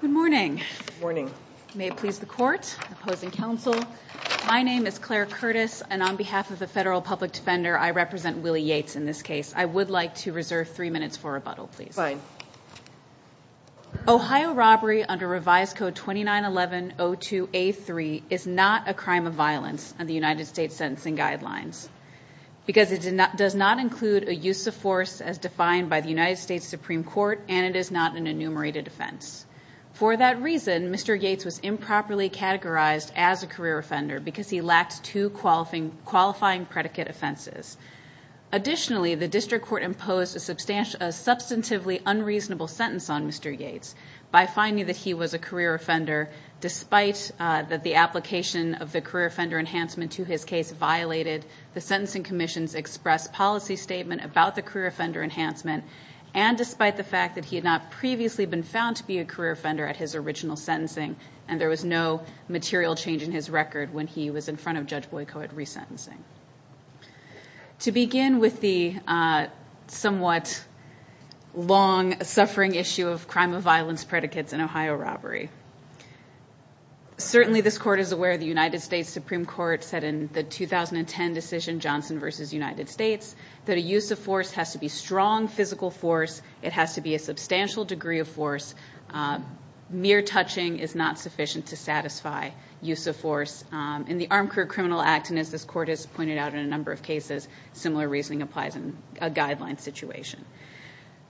Good morning, may it please the court, opposing counsel. My name is Claire Curtis and on behalf of the Federal Public Defender, I represent Willie Yates in this case. I would like to begin by saying that Section 1102A3 is not a crime of violence in the United States Sentencing Guidelines because it does not include a use of force as defined by the United States Supreme Court and it is not an enumerated offense. For that reason, Mr. Yates was improperly categorized as a career offender because he lacked two qualifying predicate offenses. Additionally, the District Court imposed a substantively unreasonable sentence on Mr. Yates despite the application of the career offender enhancement to his case violated the Sentencing Commission's express policy statement about the career offender enhancement and despite the fact that he had not previously been found to be a career offender at his original sentencing and there was no material change in his record when he was in front of Judge Boyko at resentencing. To begin with the somewhat long-suffering issue of crime of violence predicates an Ohio robbery. Certainly this Court is aware the United States Supreme Court said in the 2010 decision Johnson v. United States that a use of force has to be strong physical force. It has to be a substantial degree of force. Mere touching is not sufficient to satisfy use of force in the Armed Career Criminal Act and as this Court has pointed out in a number of cases, similar reasoning applies in a guideline situation.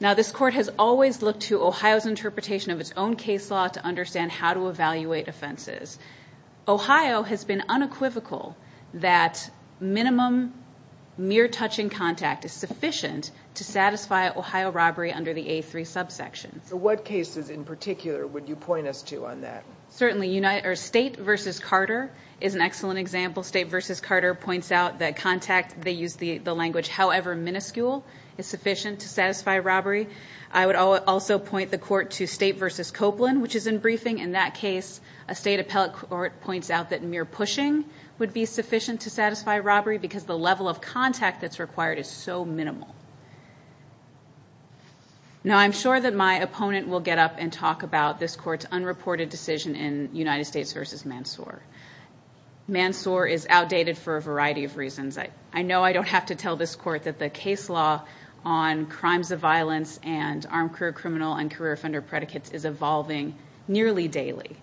Now this Court has always looked to Ohio's interpretation of its own case law to understand how to evaluate offenses. Ohio has been unequivocal that minimum mere touching contact is sufficient to satisfy Ohio robbery under the A3 subsection. So what cases in particular would you point us to on that? Certainly State v. Carter is an excellent example. State v. Carter points out that contact they use the language however minuscule is sufficient to satisfy robbery. I would also point the Court to State v. Copeland which is in briefing. In that case a State appellate court points out that mere pushing would be sufficient to satisfy robbery because the level of contact that's required is so minimal. Now I'm sure that my opponent will get up and talk about this Court's unreported decision in United States v. Mansoor. Mansoor is outdated for a variety of reasons. I know I don't have to tell this Court that the case law on crimes of violence and armed career criminal and career offender predicates is evolving nearly daily.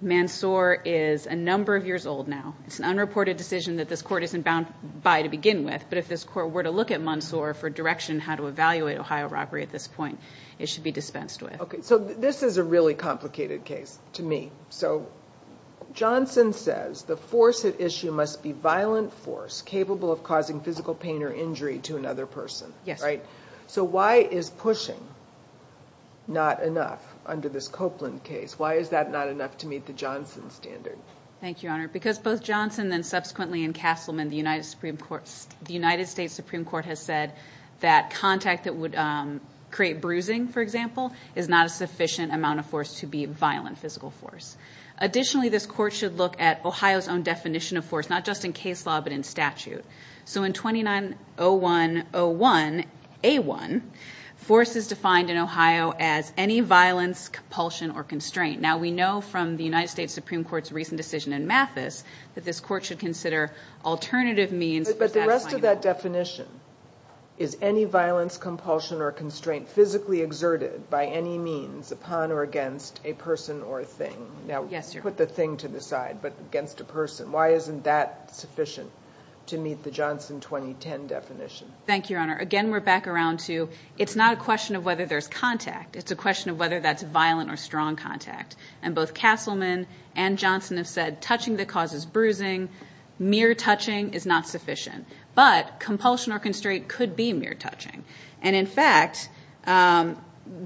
Mansoor is a number of years old now. It's an unreported decision that this Court isn't bound by to begin with, but if this Court were to look at Mansoor for direction how to evaluate Ohio robbery at this point, it should be dispensed with. So this violent force capable of causing physical pain or injury to another person. So why is pushing not enough under this Copeland case? Why is that not enough to meet the Johnson standard? Because both Johnson and subsequently in Castleman the United States Supreme Court has said that contact that would create bruising for example is not a sufficient amount of force to be violent physical force. Additionally this Court should look at Ohio's own definition of force not just in case law but in statute. So in 2901 A1 force is defined in Ohio as any violence, compulsion or constraint. Now we know from the United States Supreme Court's recent decision in Mathis that this Court should consider alternative means. But the rest of that definition is any violence, compulsion or constraint physically exerted by any means upon or against a person or thing. Now put the thing to the side but against a person. Why isn't that sufficient to meet the Johnson 2010 definition? Thank you Your Honor. Again we're back around to it's not a question of whether there's contact. It's a question of whether that's violent or strong contact. And both Castleman and Johnson have said touching that causes bruising, mere touching is not sufficient. But compulsion or constraint could be mere touching. And in fact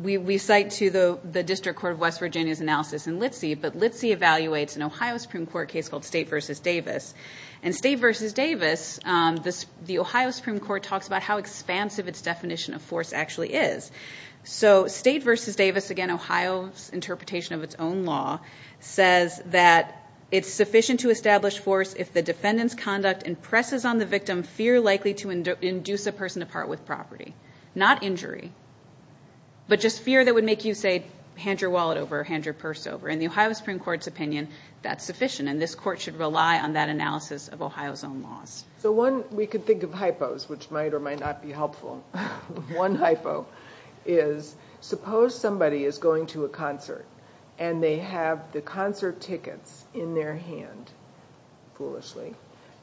we cite to the District Court of West Virginia's analysis in Litzy but Litzy evaluates an Ohio Supreme Court case called State v. Davis. And State v. Davis the Ohio Supreme Court talks about how expansive it's definition of force actually is. So State v. Davis again Ohio's interpretation of it's own law says that it's sufficient to establish force if the defendant's conduct impresses on the victim fear likely to induce a person to part with property. Not injury but just fear that would make you say hand your wallet over, hand your purse over. In this court should rely on that analysis of Ohio's own laws. So one we could think of hypos which might or might not be helpful. One hypo is suppose somebody is going to a concert and they have the concert tickets in their hand, foolishly,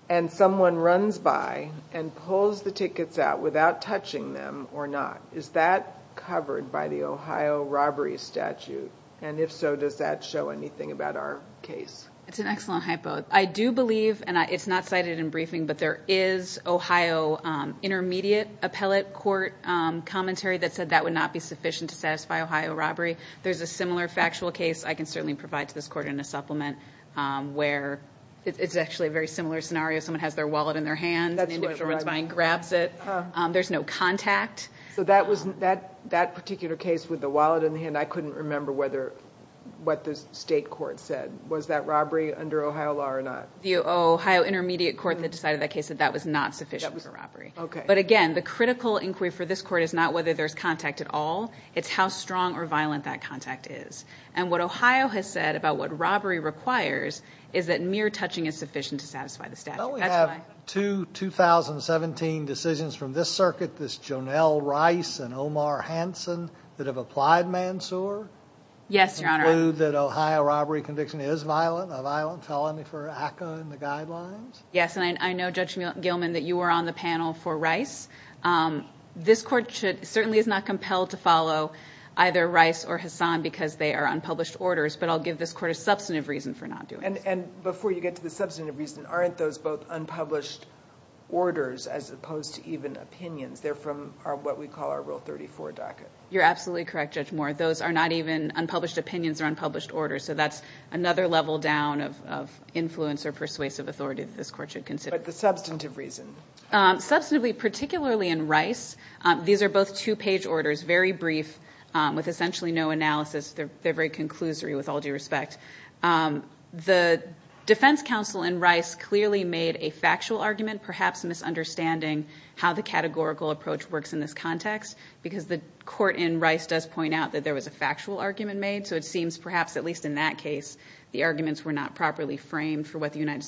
and someone runs by and pulls the tickets out without touching them or not. Is that covered by the Ohio robbery statute? And if so does that show anything about our case? It's an excellent hypo. I do believe and it's not cited in briefing but there is Ohio intermediate appellate court commentary that said that would not be sufficient to satisfy Ohio robbery. There's a similar factual case I can certainly provide to this court in a supplement where it's actually a very similar scenario. Someone has their wallet in their hand and the individual runs by and grabs it. There's no contact. So that particular case with the wallet in the hand I couldn't remember whether what the state court said. Was that robbery under Ohio law or not? The Ohio intermediate court that decided that case said that was not sufficient for robbery. But again the critical inquiry for this court is not whether there's contact at all, it's how strong or violent that contact is. And what Ohio has said about what robbery requires is that mere touching is sufficient to satisfy the statute. Well we have two 2017 decisions from this circuit, this Jonel Rice and Omar Hanson that have applied Mansour. Yes your honor. Conclude that Ohio robbery conviction is violent, a violent felony for ACA and the guidelines? Yes and I know Judge Gilman that you were on the panel for Rice. This court certainly is not compelled to follow either Rice or Hassan because they are unpublished orders but I'll give this court a substantive reason for not doing it. And before you get to the substantive reason, aren't those both unpublished orders as opposed to even opinions? They're from what we call our Rule 34 docket. You're absolutely correct Judge Moore. Those are not even unpublished opinions or unpublished orders so that's another level down of influence or persuasive authority that this court should consider. But the substantive reason? Substantively, particularly in Rice, these are both two page orders, very brief with essentially no analysis. They're very conclusory with all due respect. The defense counsel in Rice clearly made a factual argument, perhaps misunderstanding how the categorical approach works in this context because the court in Rice does point out that there was a factual argument made so it seems perhaps, at least in that case, the arguments were not properly framed for what the United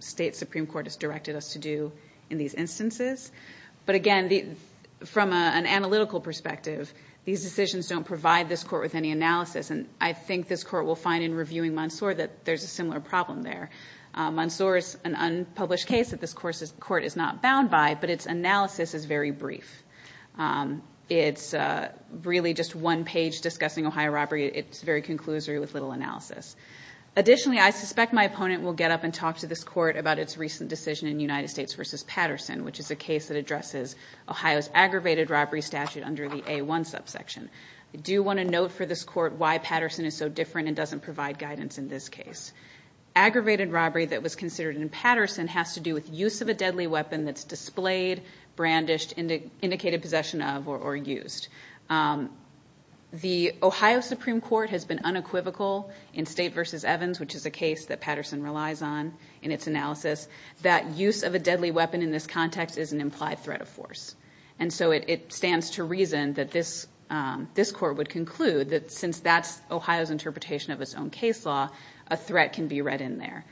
States Supreme Court has directed us to do in these instances. But again, from an analytical perspective, these decisions don't provide this court with any analysis and I think this court will find in reviewing Mansour that there's a similar problem there. Mansour is an unpublished case that this court is not bound by but its analysis is very brief. It's really just one page discussing Ohio robbery. It's very conclusory with little analysis. Additionally, I suspect my opponent will get up and talk to this court about its recent decision in United States v. Patterson, which is a case that addresses Ohio's aggravated robbery statute under the A1 subsection. I do want to note for this court why Patterson is so different and doesn't provide guidance in this case. Aggravated robbery that was indicated possession of or used. The Ohio Supreme Court has been unequivocal in State v. Evans, which is a case that Patterson relies on in its analysis, that use of a deadly weapon in this context is an implied threat of force. And so it stands to reason that this court would conclude that since that's Ohio's interpretation of its own case law, a threat can be read in there.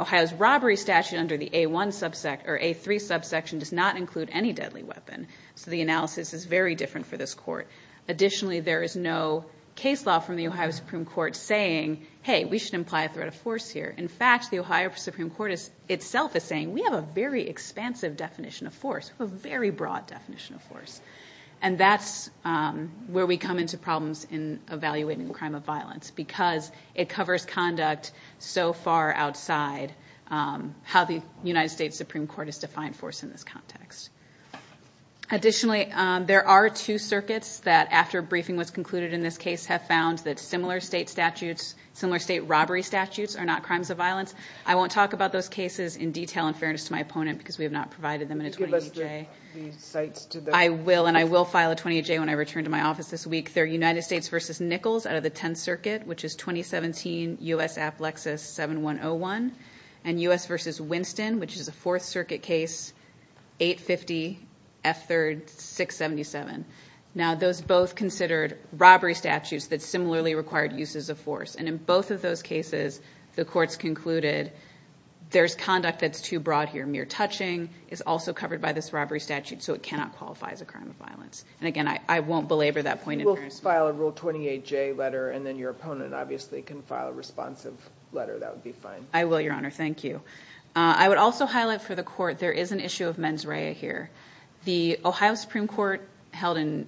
Ohio's robbery statute under the A3 subsection does not include any deadly weapon. So the analysis is very different for this court. Additionally, there is no case law from the Ohio Supreme Court saying, hey, we should imply a threat of force here. In fact, the Ohio Supreme Court itself is saying we have a very expansive definition of force, a very broad definition of force. And that's where we come into problems in evaluating crime of violence, because it covers conduct so far outside how the United States Supreme Court has defined force in this context. Additionally, there are two circuits that, after briefing was concluded in this case, have found that similar state statutes, similar state robbery statutes are not crimes of violence. I won't talk about those cases in detail in fairness to my opponent, because we have not provided them in a 28-J. Could you give us the sites to them? I will, and I will file a 28-J when I return to my office this week. They're United States v. Nichols out of the Tenth Circuit, which is 2017 U.S. Applexus 7101, and U.S. v. Winston, which is a Fourth Circuit case, 850 F3rd 677. Now, those both considered robbery statutes that similarly required uses of force. And in both of those cases, the courts concluded there's conduct that's too broad here. Mere touching is also covered by this robbery statute, so it cannot qualify as a crime of violence. And again, I won't belabor that point in fairness to my opponent, because we have not provided them in a 28-J letter. If you could just file a Rule 28-J letter, and then your opponent obviously can file a responsive letter, that would be fine. I will, Your Honor. Thank you. I would also highlight for the Court there is an issue of mens rea here. The Ohio Supreme Court held in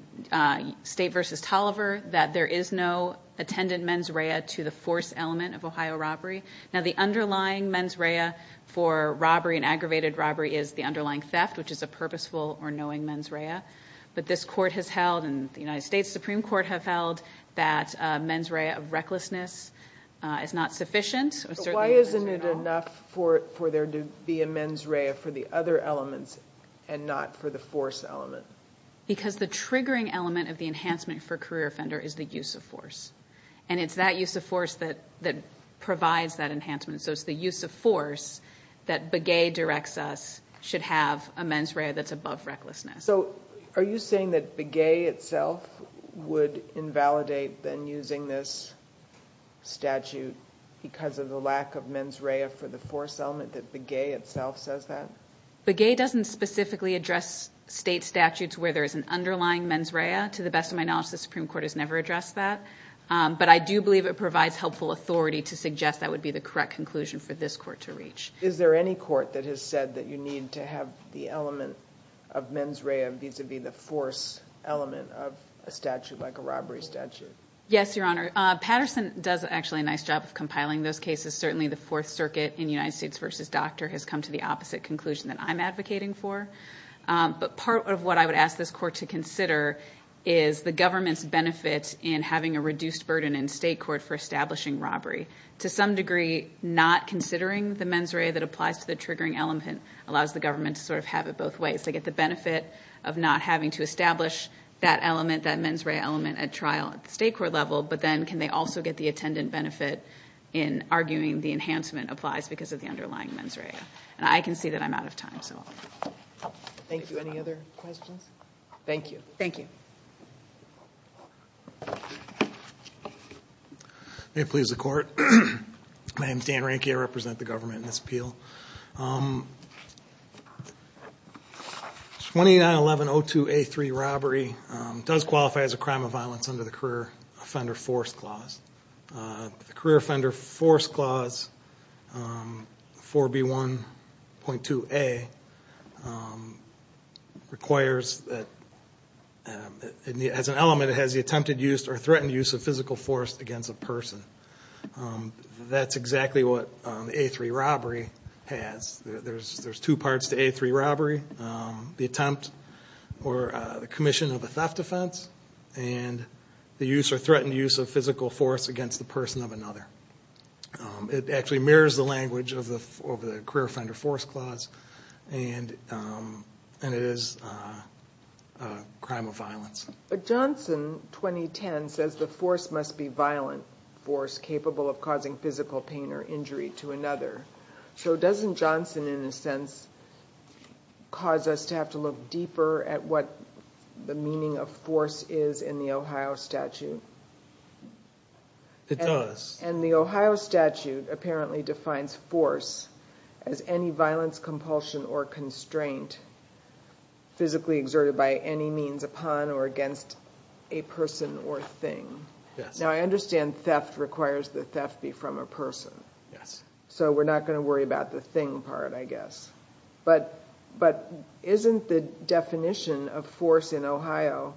State v. Tolliver that there is no attendant mens rea to the force element of Ohio robbery. Now, the underlying mens rea for robbery and aggravated robbery is the underlying theft, which is a purposeful or knowing mens rea. But this Court has held, and the United States Supreme Court has held, that mens rea of recklessness is not sufficient. But why isn't it enough for there to be a mens rea for the other elements and not for the force element? Because the triggering element of the enhancement for a career offender is the use of force. And it's that use of force that provides that enhancement. So it's the use of force that Are you saying that Begay itself would invalidate then using this statute because of the lack of mens rea for the force element, that Begay itself says that? Begay doesn't specifically address State statutes where there is an underlying mens rea. To the best of my knowledge, the Supreme Court has never addressed that. But I do believe it provides helpful authority to suggest that would be the correct conclusion for this Court to reach. Is there any Court that has said that you need to have the element of mens rea vis-a-vis the force element of a statute like a robbery statute? Yes, Your Honor. Patterson does actually a nice job of compiling those cases. Certainly the Fourth Circuit in United States v. Doctor has come to the opposite conclusion that I'm advocating for. But part of what I would ask this Court to consider is the government's benefits in having a reduced burden in State court for establishing robbery. To some degree, not considering the mens rea that applies to the triggering element allows the government to sort of have it both ways. They get the benefit of not having to establish that element, that mens rea element at trial at the State court level, but then can they also get the attendant benefit in arguing the enhancement applies because of the underlying mens rea. And I can see that I'm out of time, so I'll leave it at that. Thank you. Any other questions? Thank you. Thank you. May it please the Court. My name is Dan Ranky. I represent the government in this appeal. 29-11-02A3 robbery does qualify as a crime of violence under the Career Offender Force Clause 4B1.2A requires that as an element it has the attempted use or threatened use of physical force against a person. That's exactly what A3 robbery has. There's two parts to A3 robbery. The attempt or the commission of a theft offense and the use or threatened use of physical force against the person of another. It actually mirrors the language of the Career Offender Force Clause and it is a crime of violence. But Johnson, 2010, says the force must be violent force capable of causing physical pain or injury to another. So doesn't Johnson, in a sense, cause us to have to look deeper at what the meaning of force is in the Ohio statute? It does. And the Ohio statute apparently defines force as any violence, compulsion, or constraint physically exerted by any means upon or against a person or thing. Now, I understand theft requires the theft be from a person. So we're not going to worry about the thing part, I think, in the commission of force in Ohio,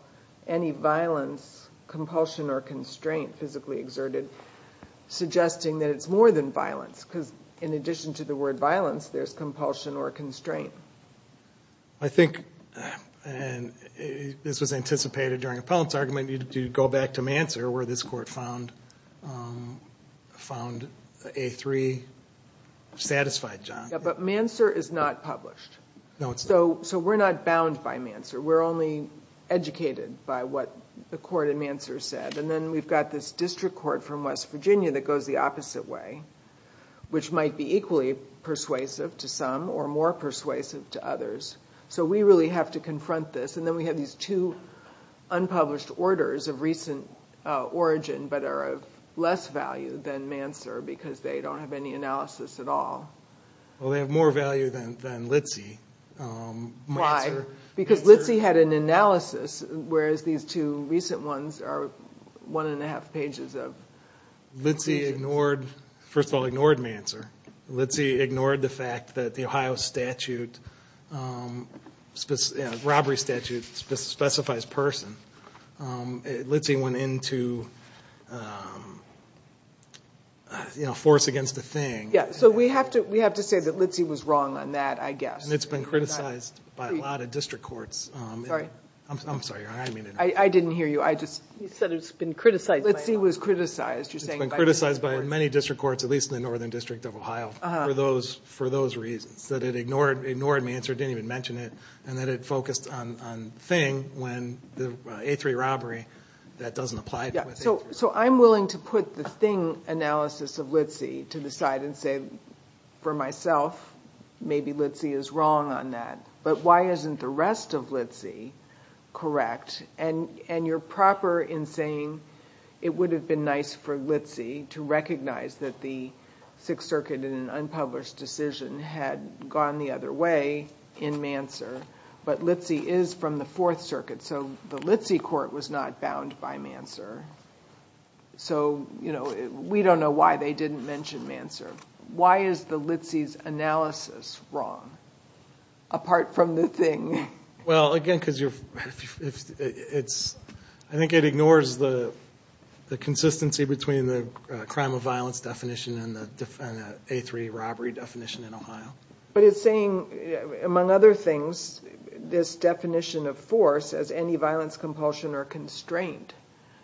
any violence, compulsion, or constraint physically exerted, suggesting that it's more than violence. Because in addition to the word violence, there's compulsion or constraint. I think, and this was anticipated during Appellant's argument, you need to go back to Manser where this Court found A3 satisfied, John. Yeah, but Manser is not published. So we're not bound by Manser. We're only educated by what the court in Manser said. And then we've got this district court from West Virginia that goes the opposite way, which might be equally persuasive to some or more persuasive to others. So we really have to confront this. And then we have these two unpublished orders of recent origin, but are of less value than Manser because they don't have any analysis at all. Well, they have more value than Litzy. Why? Because Litzy had an analysis, whereas these two recent ones are one and a half pages of... Litzy ignored, first of all, ignored Manser. Litzy ignored the fact that the Ohio statute, robbery statute, specifies person. Litzy went into force against the thing. So we have to say that Litzy was wrong on that, I guess. And it's been criticized by a lot of district courts. I'm sorry. I didn't hear you. I just... He said it's been criticized. Litzy was criticized. It's been criticized by many district courts, at least in the Northern District of Ohio, for those reasons. That it ignored Manser, didn't even mention it, and that it focused on Thing when the A3 robbery, that doesn't apply to A3. So I'm willing to put the Thing analysis of Litzy to the side and say, for myself, maybe Litzy is wrong on that. But why isn't the rest of Litzy correct? And you're proper in saying it would have been nice for Litzy to recognize that the Sixth Circuit in an unpublished decision had gone the other way in Manser, but Litzy is from the Fourth Circuit. So the Litzy court was not bound by Manser. So we don't know why they didn't mention Manser. Why is the Litzy's analysis wrong, apart from the Thing? Well, again, because I think it ignores the consistency between the crime of violence definition and the A3 robbery definition in Ohio. But it's saying, among other things, this definition of force as any violence compulsion or constraint,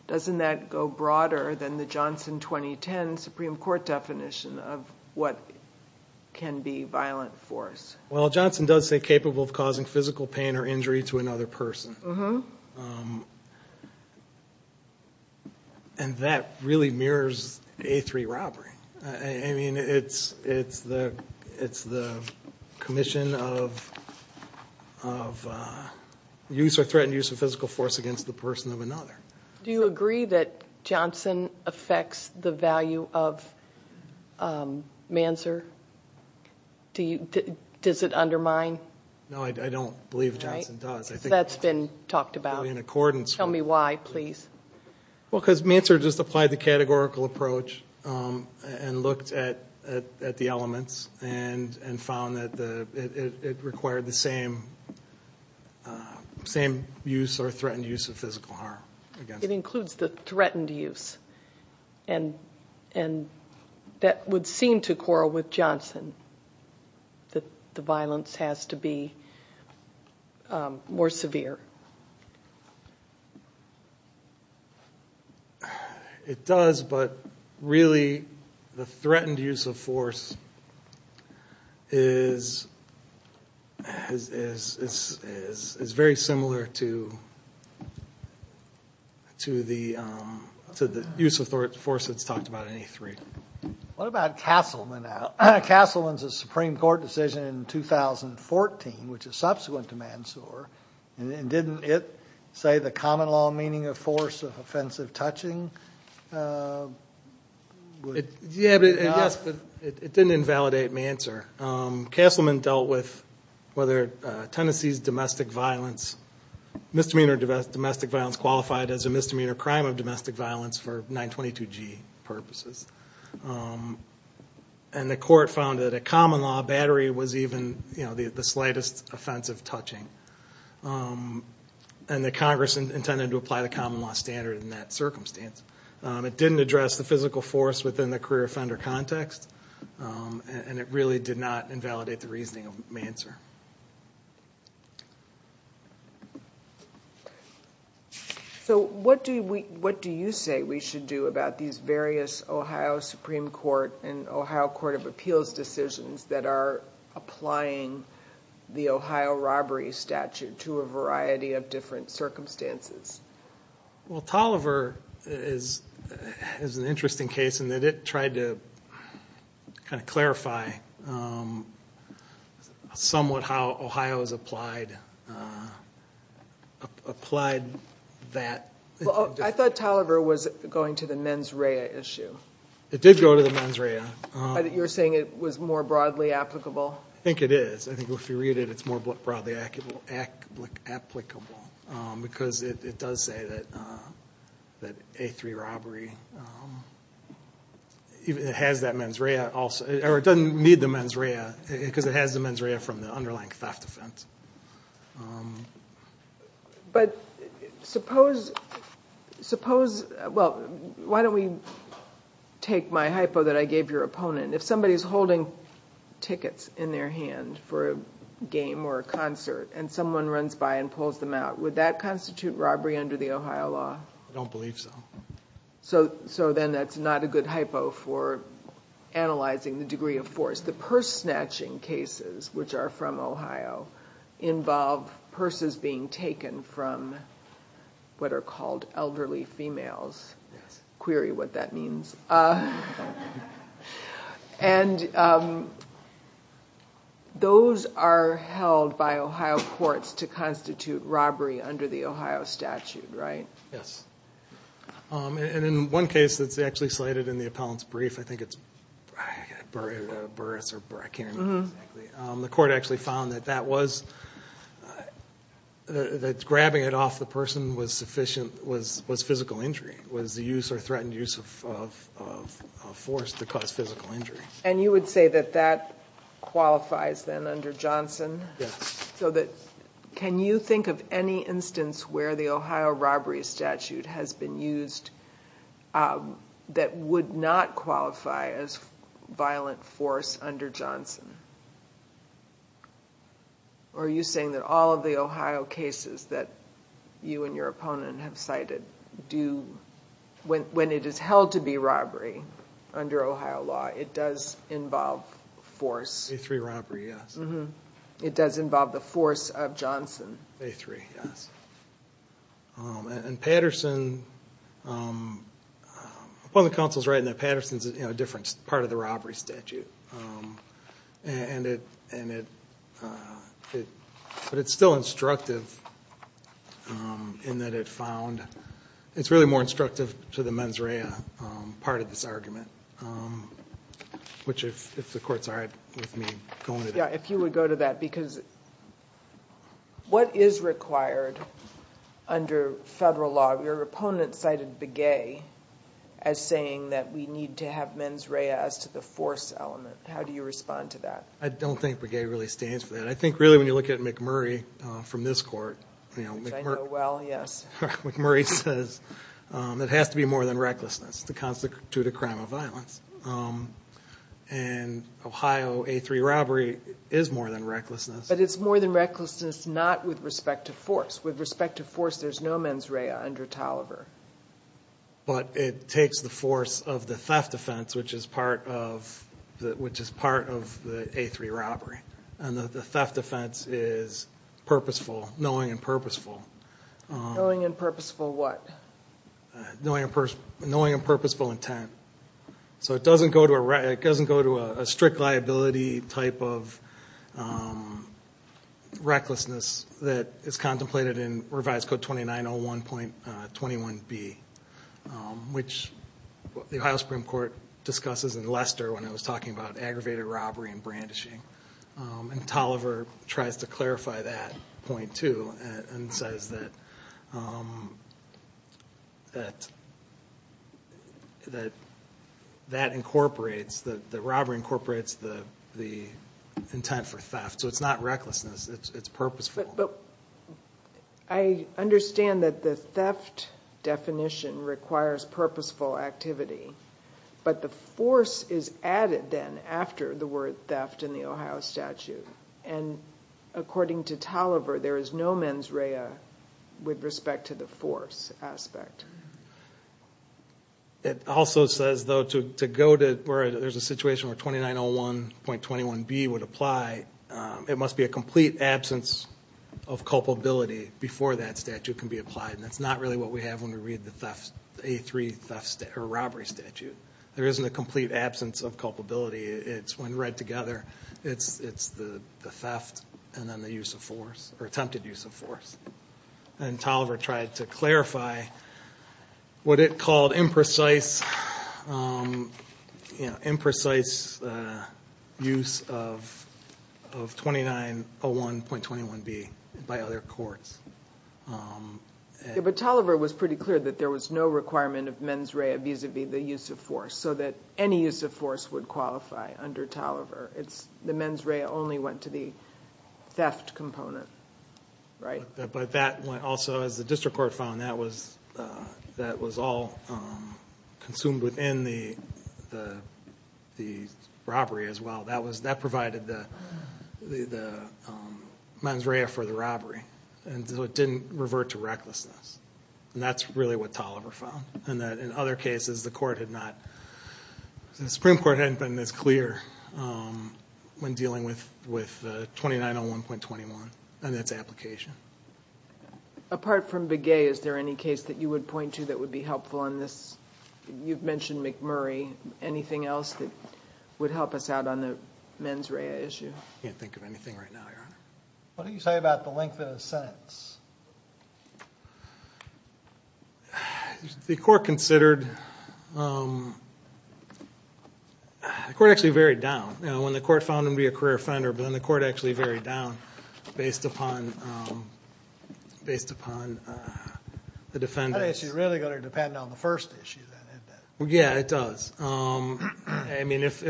doesn't that go broader than the Johnson 2010 Supreme Court definition of what can be violent force? Well, Johnson does say capable of causing physical pain or injury to another person. And that really mirrors A3 robbery. I mean, it's the commission of use or threatened use of physical force against the person of another. Do you agree that Johnson affects the value of Manser? Does it undermine? No, I don't believe Johnson does. That's been talked about. In accordance. Tell me why, please. Well, because Manser just applied the categorical approach and looked at the elements and found that it required the same use or threatened use of physical harm. It includes the threatened use. And that would seem to quarrel with Johnson, that the violence has to be more severe. It does, but really, the threatened use of force is very similar to the use of force that's talked about in A3. What about Castleman now? Castleman's a Supreme Court decision in 2014, which is subsequent to Manser. And didn't it say the common law meaning of force of offensive touching? It didn't invalidate Manser. Castleman dealt with whether Tennessee's domestic violence, misdemeanor domestic violence, qualified as a misdemeanor crime of domestic violence for 922G purposes. And the court found that a common law battery was even the slightest offensive touching. And the Congress intended to apply the common law standard in that circumstance. It didn't address the physical force within the career offender context. And it really did not invalidate the reasoning of Manser. So what do you say we should do about these various Ohio Supreme Court and Ohio Court of Appeals decisions that are applying the Ohio robbery statute to a variety of different circumstances? Well, Tolliver is an interesting case in that it tried to kind of clarify somewhat how Ohio's applied that. Well, I thought Tolliver was going to the mens rea issue. It did go to the mens rea. You're saying it was more broadly applicable? I think it is. I think if you read it, it's more broadly applicable. Because it does say that A3 robbery has that mens rea also. Or it doesn't need the mens rea because it has the mens rea from the underlying theft offense. But suppose, well, why don't we take my hypo that I gave your opponent. If somebody is holding tickets in their hand for a game or a concert, and someone runs by and pulls them out, would that constitute robbery under the Ohio law? I don't believe so. So then that's not a good hypo for analyzing the degree of force. The purse snatching cases, which are from Ohio, involve purses being taken from what are called elderly females. Query what that means. And those are held by Ohio courts to constitute robbery under the Ohio statute, right? Yes. And in one case that's actually slated in the appellant's brief, I think it's Burris or Breck, I can't remember exactly. The court actually found that grabbing it off the person was physical injury, was the use or threatened use of force to cause physical injury. And you would say that that qualifies then under Johnson? Yes. So can you think of any instance where the Ohio robbery statute has been used that would not qualify as violent force under Johnson? Or are you saying that all of the Ohio cases that you and your opponent have cited do, when it is held to be robbery under Ohio law, it does involve force? A3 robbery, yes. It does involve the force of Johnson? A3, yes. And Patterson, the public counsel's writing that Patterson's a different part of the robbery statute. But it's still instructive in that it found, it's really more instructive to the mens rea part of this argument, which if the court's all right with me going to that. Yeah, if you would go to that. Because what is required under federal law? Your opponent cited Begay as saying that we need to have mens rea as to the force element. How do you respond to that? I don't think Begay really stands for that. I think really when you look at McMurray from this court, you know... Which I know well, yes. McMurray says it has to be more than recklessness to constitute a crime of violence. And Ohio A3 robbery is more than recklessness. But it's more than recklessness not with respect to force. With respect to force, there's no mens rea under Tolliver. But it takes the force of the theft offense, which is part of the A3 robbery. And the theft offense is purposeful, knowing and purposeful. Knowing and purposeful what? Knowing and purposeful intent. So it doesn't go to a strict liability type of recklessness that is contemplated in revised code 2901.21b, which the Ohio Supreme Court discusses in Lester when it was talking about aggravated robbery and brandishing. And Tolliver tries to clarify that point too and says that that incorporates, the robbery incorporates the intent for theft. So it's not recklessness. It's purposeful. But I understand that the theft definition requires purposeful activity. But the force is added then after the word theft in the Ohio statute. And according to Tolliver, there is no mens rea with respect to the force aspect. It also says though to go to where there's a situation where 2901.21b would apply, it must be a complete absence of culpability before that statute can be applied. And that's not really what we have when we read the A3 robbery statute. There isn't a complete absence of culpability. It's when read together, it's the theft and then the use of force or attempted use of force. And Tolliver tried to clarify what it called imprecise use of 2901.21b by other courts. But Tolliver was pretty clear that there was no requirement of mens rea vis-a-vis the use of force so that any use of force would qualify under Tolliver. It's the mens rea only went to the theft component, right? But that also, as the district court found, that was all consumed within the robbery as well. That provided the mens rea for the robbery. And so it didn't revert to recklessness. And that's really what Tolliver found. And that in other cases, the Supreme Court hadn't been as clear when dealing with 2901.21 and its application. Apart from Begay, is there any case that you would point to that would be helpful on this? You've mentioned McMurray. Anything else that would help us out on the mens rea issue? I can't think of anything right now, Your Honor. What do you say about the length of the sentence? The court considered... The court actually varied down. When the court found him to be a career offender, but then the court actually varied down based upon the defendant. I think it's really going to depend on the first issue then, isn't it? Yeah, it does. I mean, if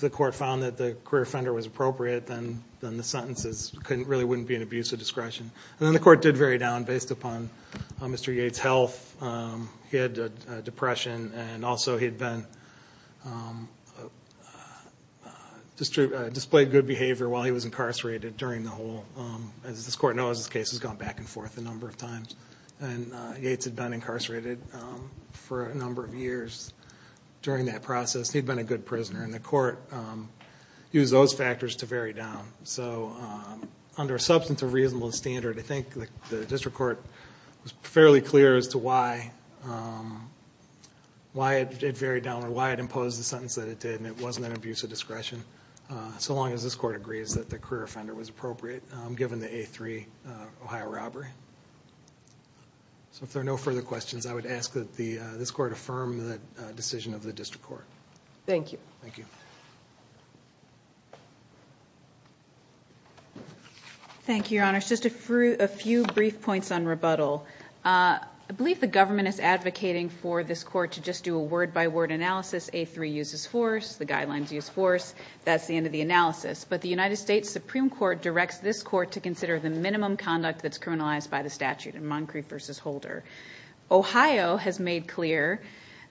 the court found that the career offender was appropriate, then the sentences really wouldn't be an abuse of discretion. And then the court did vary down based upon Mr. Yates' health. He had depression and also he had been... Displayed good behavior while he was incarcerated during the whole... As this court knows, this case has gone back and forth a number of times. And Yates had been incarcerated for a number of years during that process. He'd been a good prisoner. And the court used those factors to vary down. So under a substantive reasonable standard, I think the district court was fairly clear as to why it varied down or why it imposed the sentence that it did. And it wasn't an abuse of discretion. So long as this court agrees that the career offender was appropriate given the A3 Ohio robbery. So if there are no further questions, I would ask that this court affirm the decision of the district court. Thank you. Thank you. Thank you, Your Honor. Just a few brief points on rebuttal. I believe the government is advocating for this court to just do a word-by-word analysis. A3 uses force. The guidelines use force. That's the end of the analysis. But the United States Supreme Court directs this court to consider the minimum conduct that's criminalized by the statute in Moncrieff v. Holder. Ohio has made clear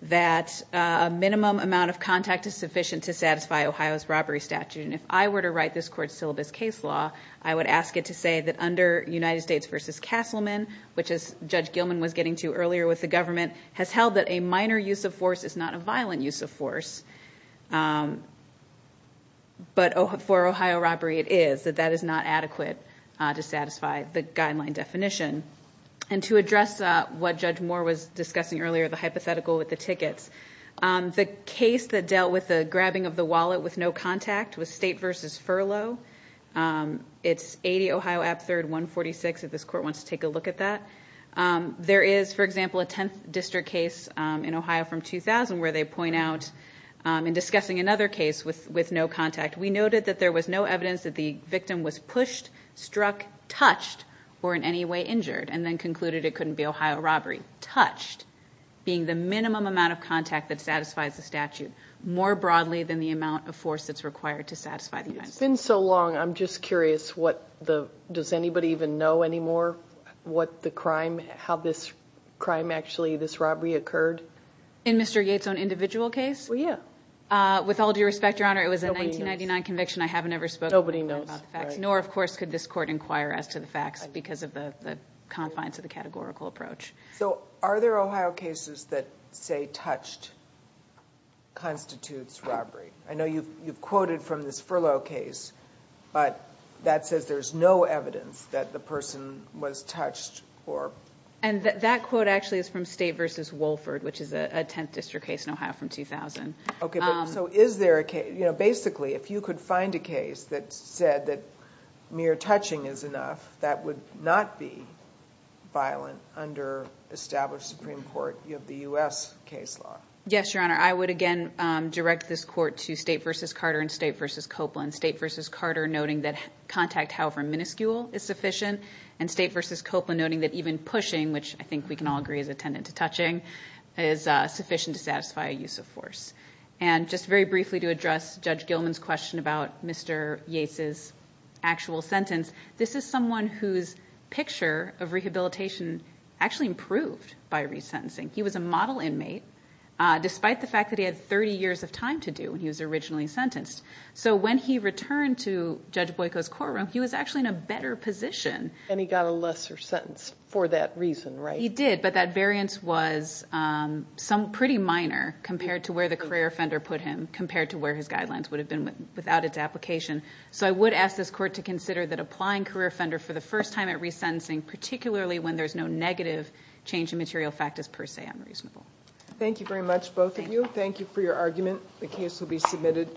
that a minimum amount of contact is sufficient to satisfy Ohio's robbery statute. And if I were to write this court's syllabus case law, I would ask it to say that under United States v. Castleman, which is Judge Gilman was getting to earlier with the government, has held that a minor use of force is not a violent use of force. But for Ohio robbery, it is. That that is not adequate to satisfy the guideline definition. And to address what Judge Moore was discussing earlier, the hypothetical with the tickets, the case that dealt with the grabbing of the wallet with no contact was State v. Furlough. It's 80 Ohio App 3rd 146 if this court wants to take a look at that. There is, for example, a 10th district case in Ohio from 2000 where they point out in discussing another case with no contact, we noted that there was no evidence that the victim was pushed, struck, touched, or in any way injured, and then concluded it couldn't be Ohio robbery. Touched being the minimum amount of contact that satisfies the statute more broadly than the amount of force that's required to satisfy. It's been so long, I'm just curious, does anybody even know anymore what the crime, how this crime actually, this robbery occurred? In Mr. Yates' own individual case? Well, yeah. With all due respect, Your Honor, it was a 1999 conviction. I haven't ever spoken about the facts, nor, of course, could this court inquire as to the facts because of the confines of the categorical approach. Are there Ohio cases that say touched constitutes robbery? I know you've quoted from this furlough case, but that says there's no evidence that the person was touched or... That quote actually is from State v. Wolford, which is a 10th district case in Ohio from 2000. Basically, if you could find a case that said that mere touching is enough, that would not be violent under established Supreme Court of the U.S. case law. Yes, Your Honor. I would, again, direct this court to State v. Carter and State v. Copeland. State v. Carter noting that contact, however minuscule, is sufficient, and State v. Copeland noting that even pushing, which I think we can all agree is attendant to touching, is sufficient to satisfy a use of force. Just very briefly to address Judge Gilman's question about Mr. Yates' actual sentence, this is someone whose picture of rehabilitation actually improved by resentencing. He was a model inmate, despite the fact that he had 30 years of time to do when he was originally sentenced. So when he returned to Judge Boyko's courtroom, he was actually in a better position. And he got a lesser sentence for that reason, right? He did, but that variance was pretty minor compared to where the career offender put him, compared to where his guidelines would have been without its application. So I would ask this court to consider that applying career offender for the first time at resentencing, particularly when there's no negative change in material factors per se, unreasonable. Thank you very much, both of you. Thank you for your argument. The case will be submitted.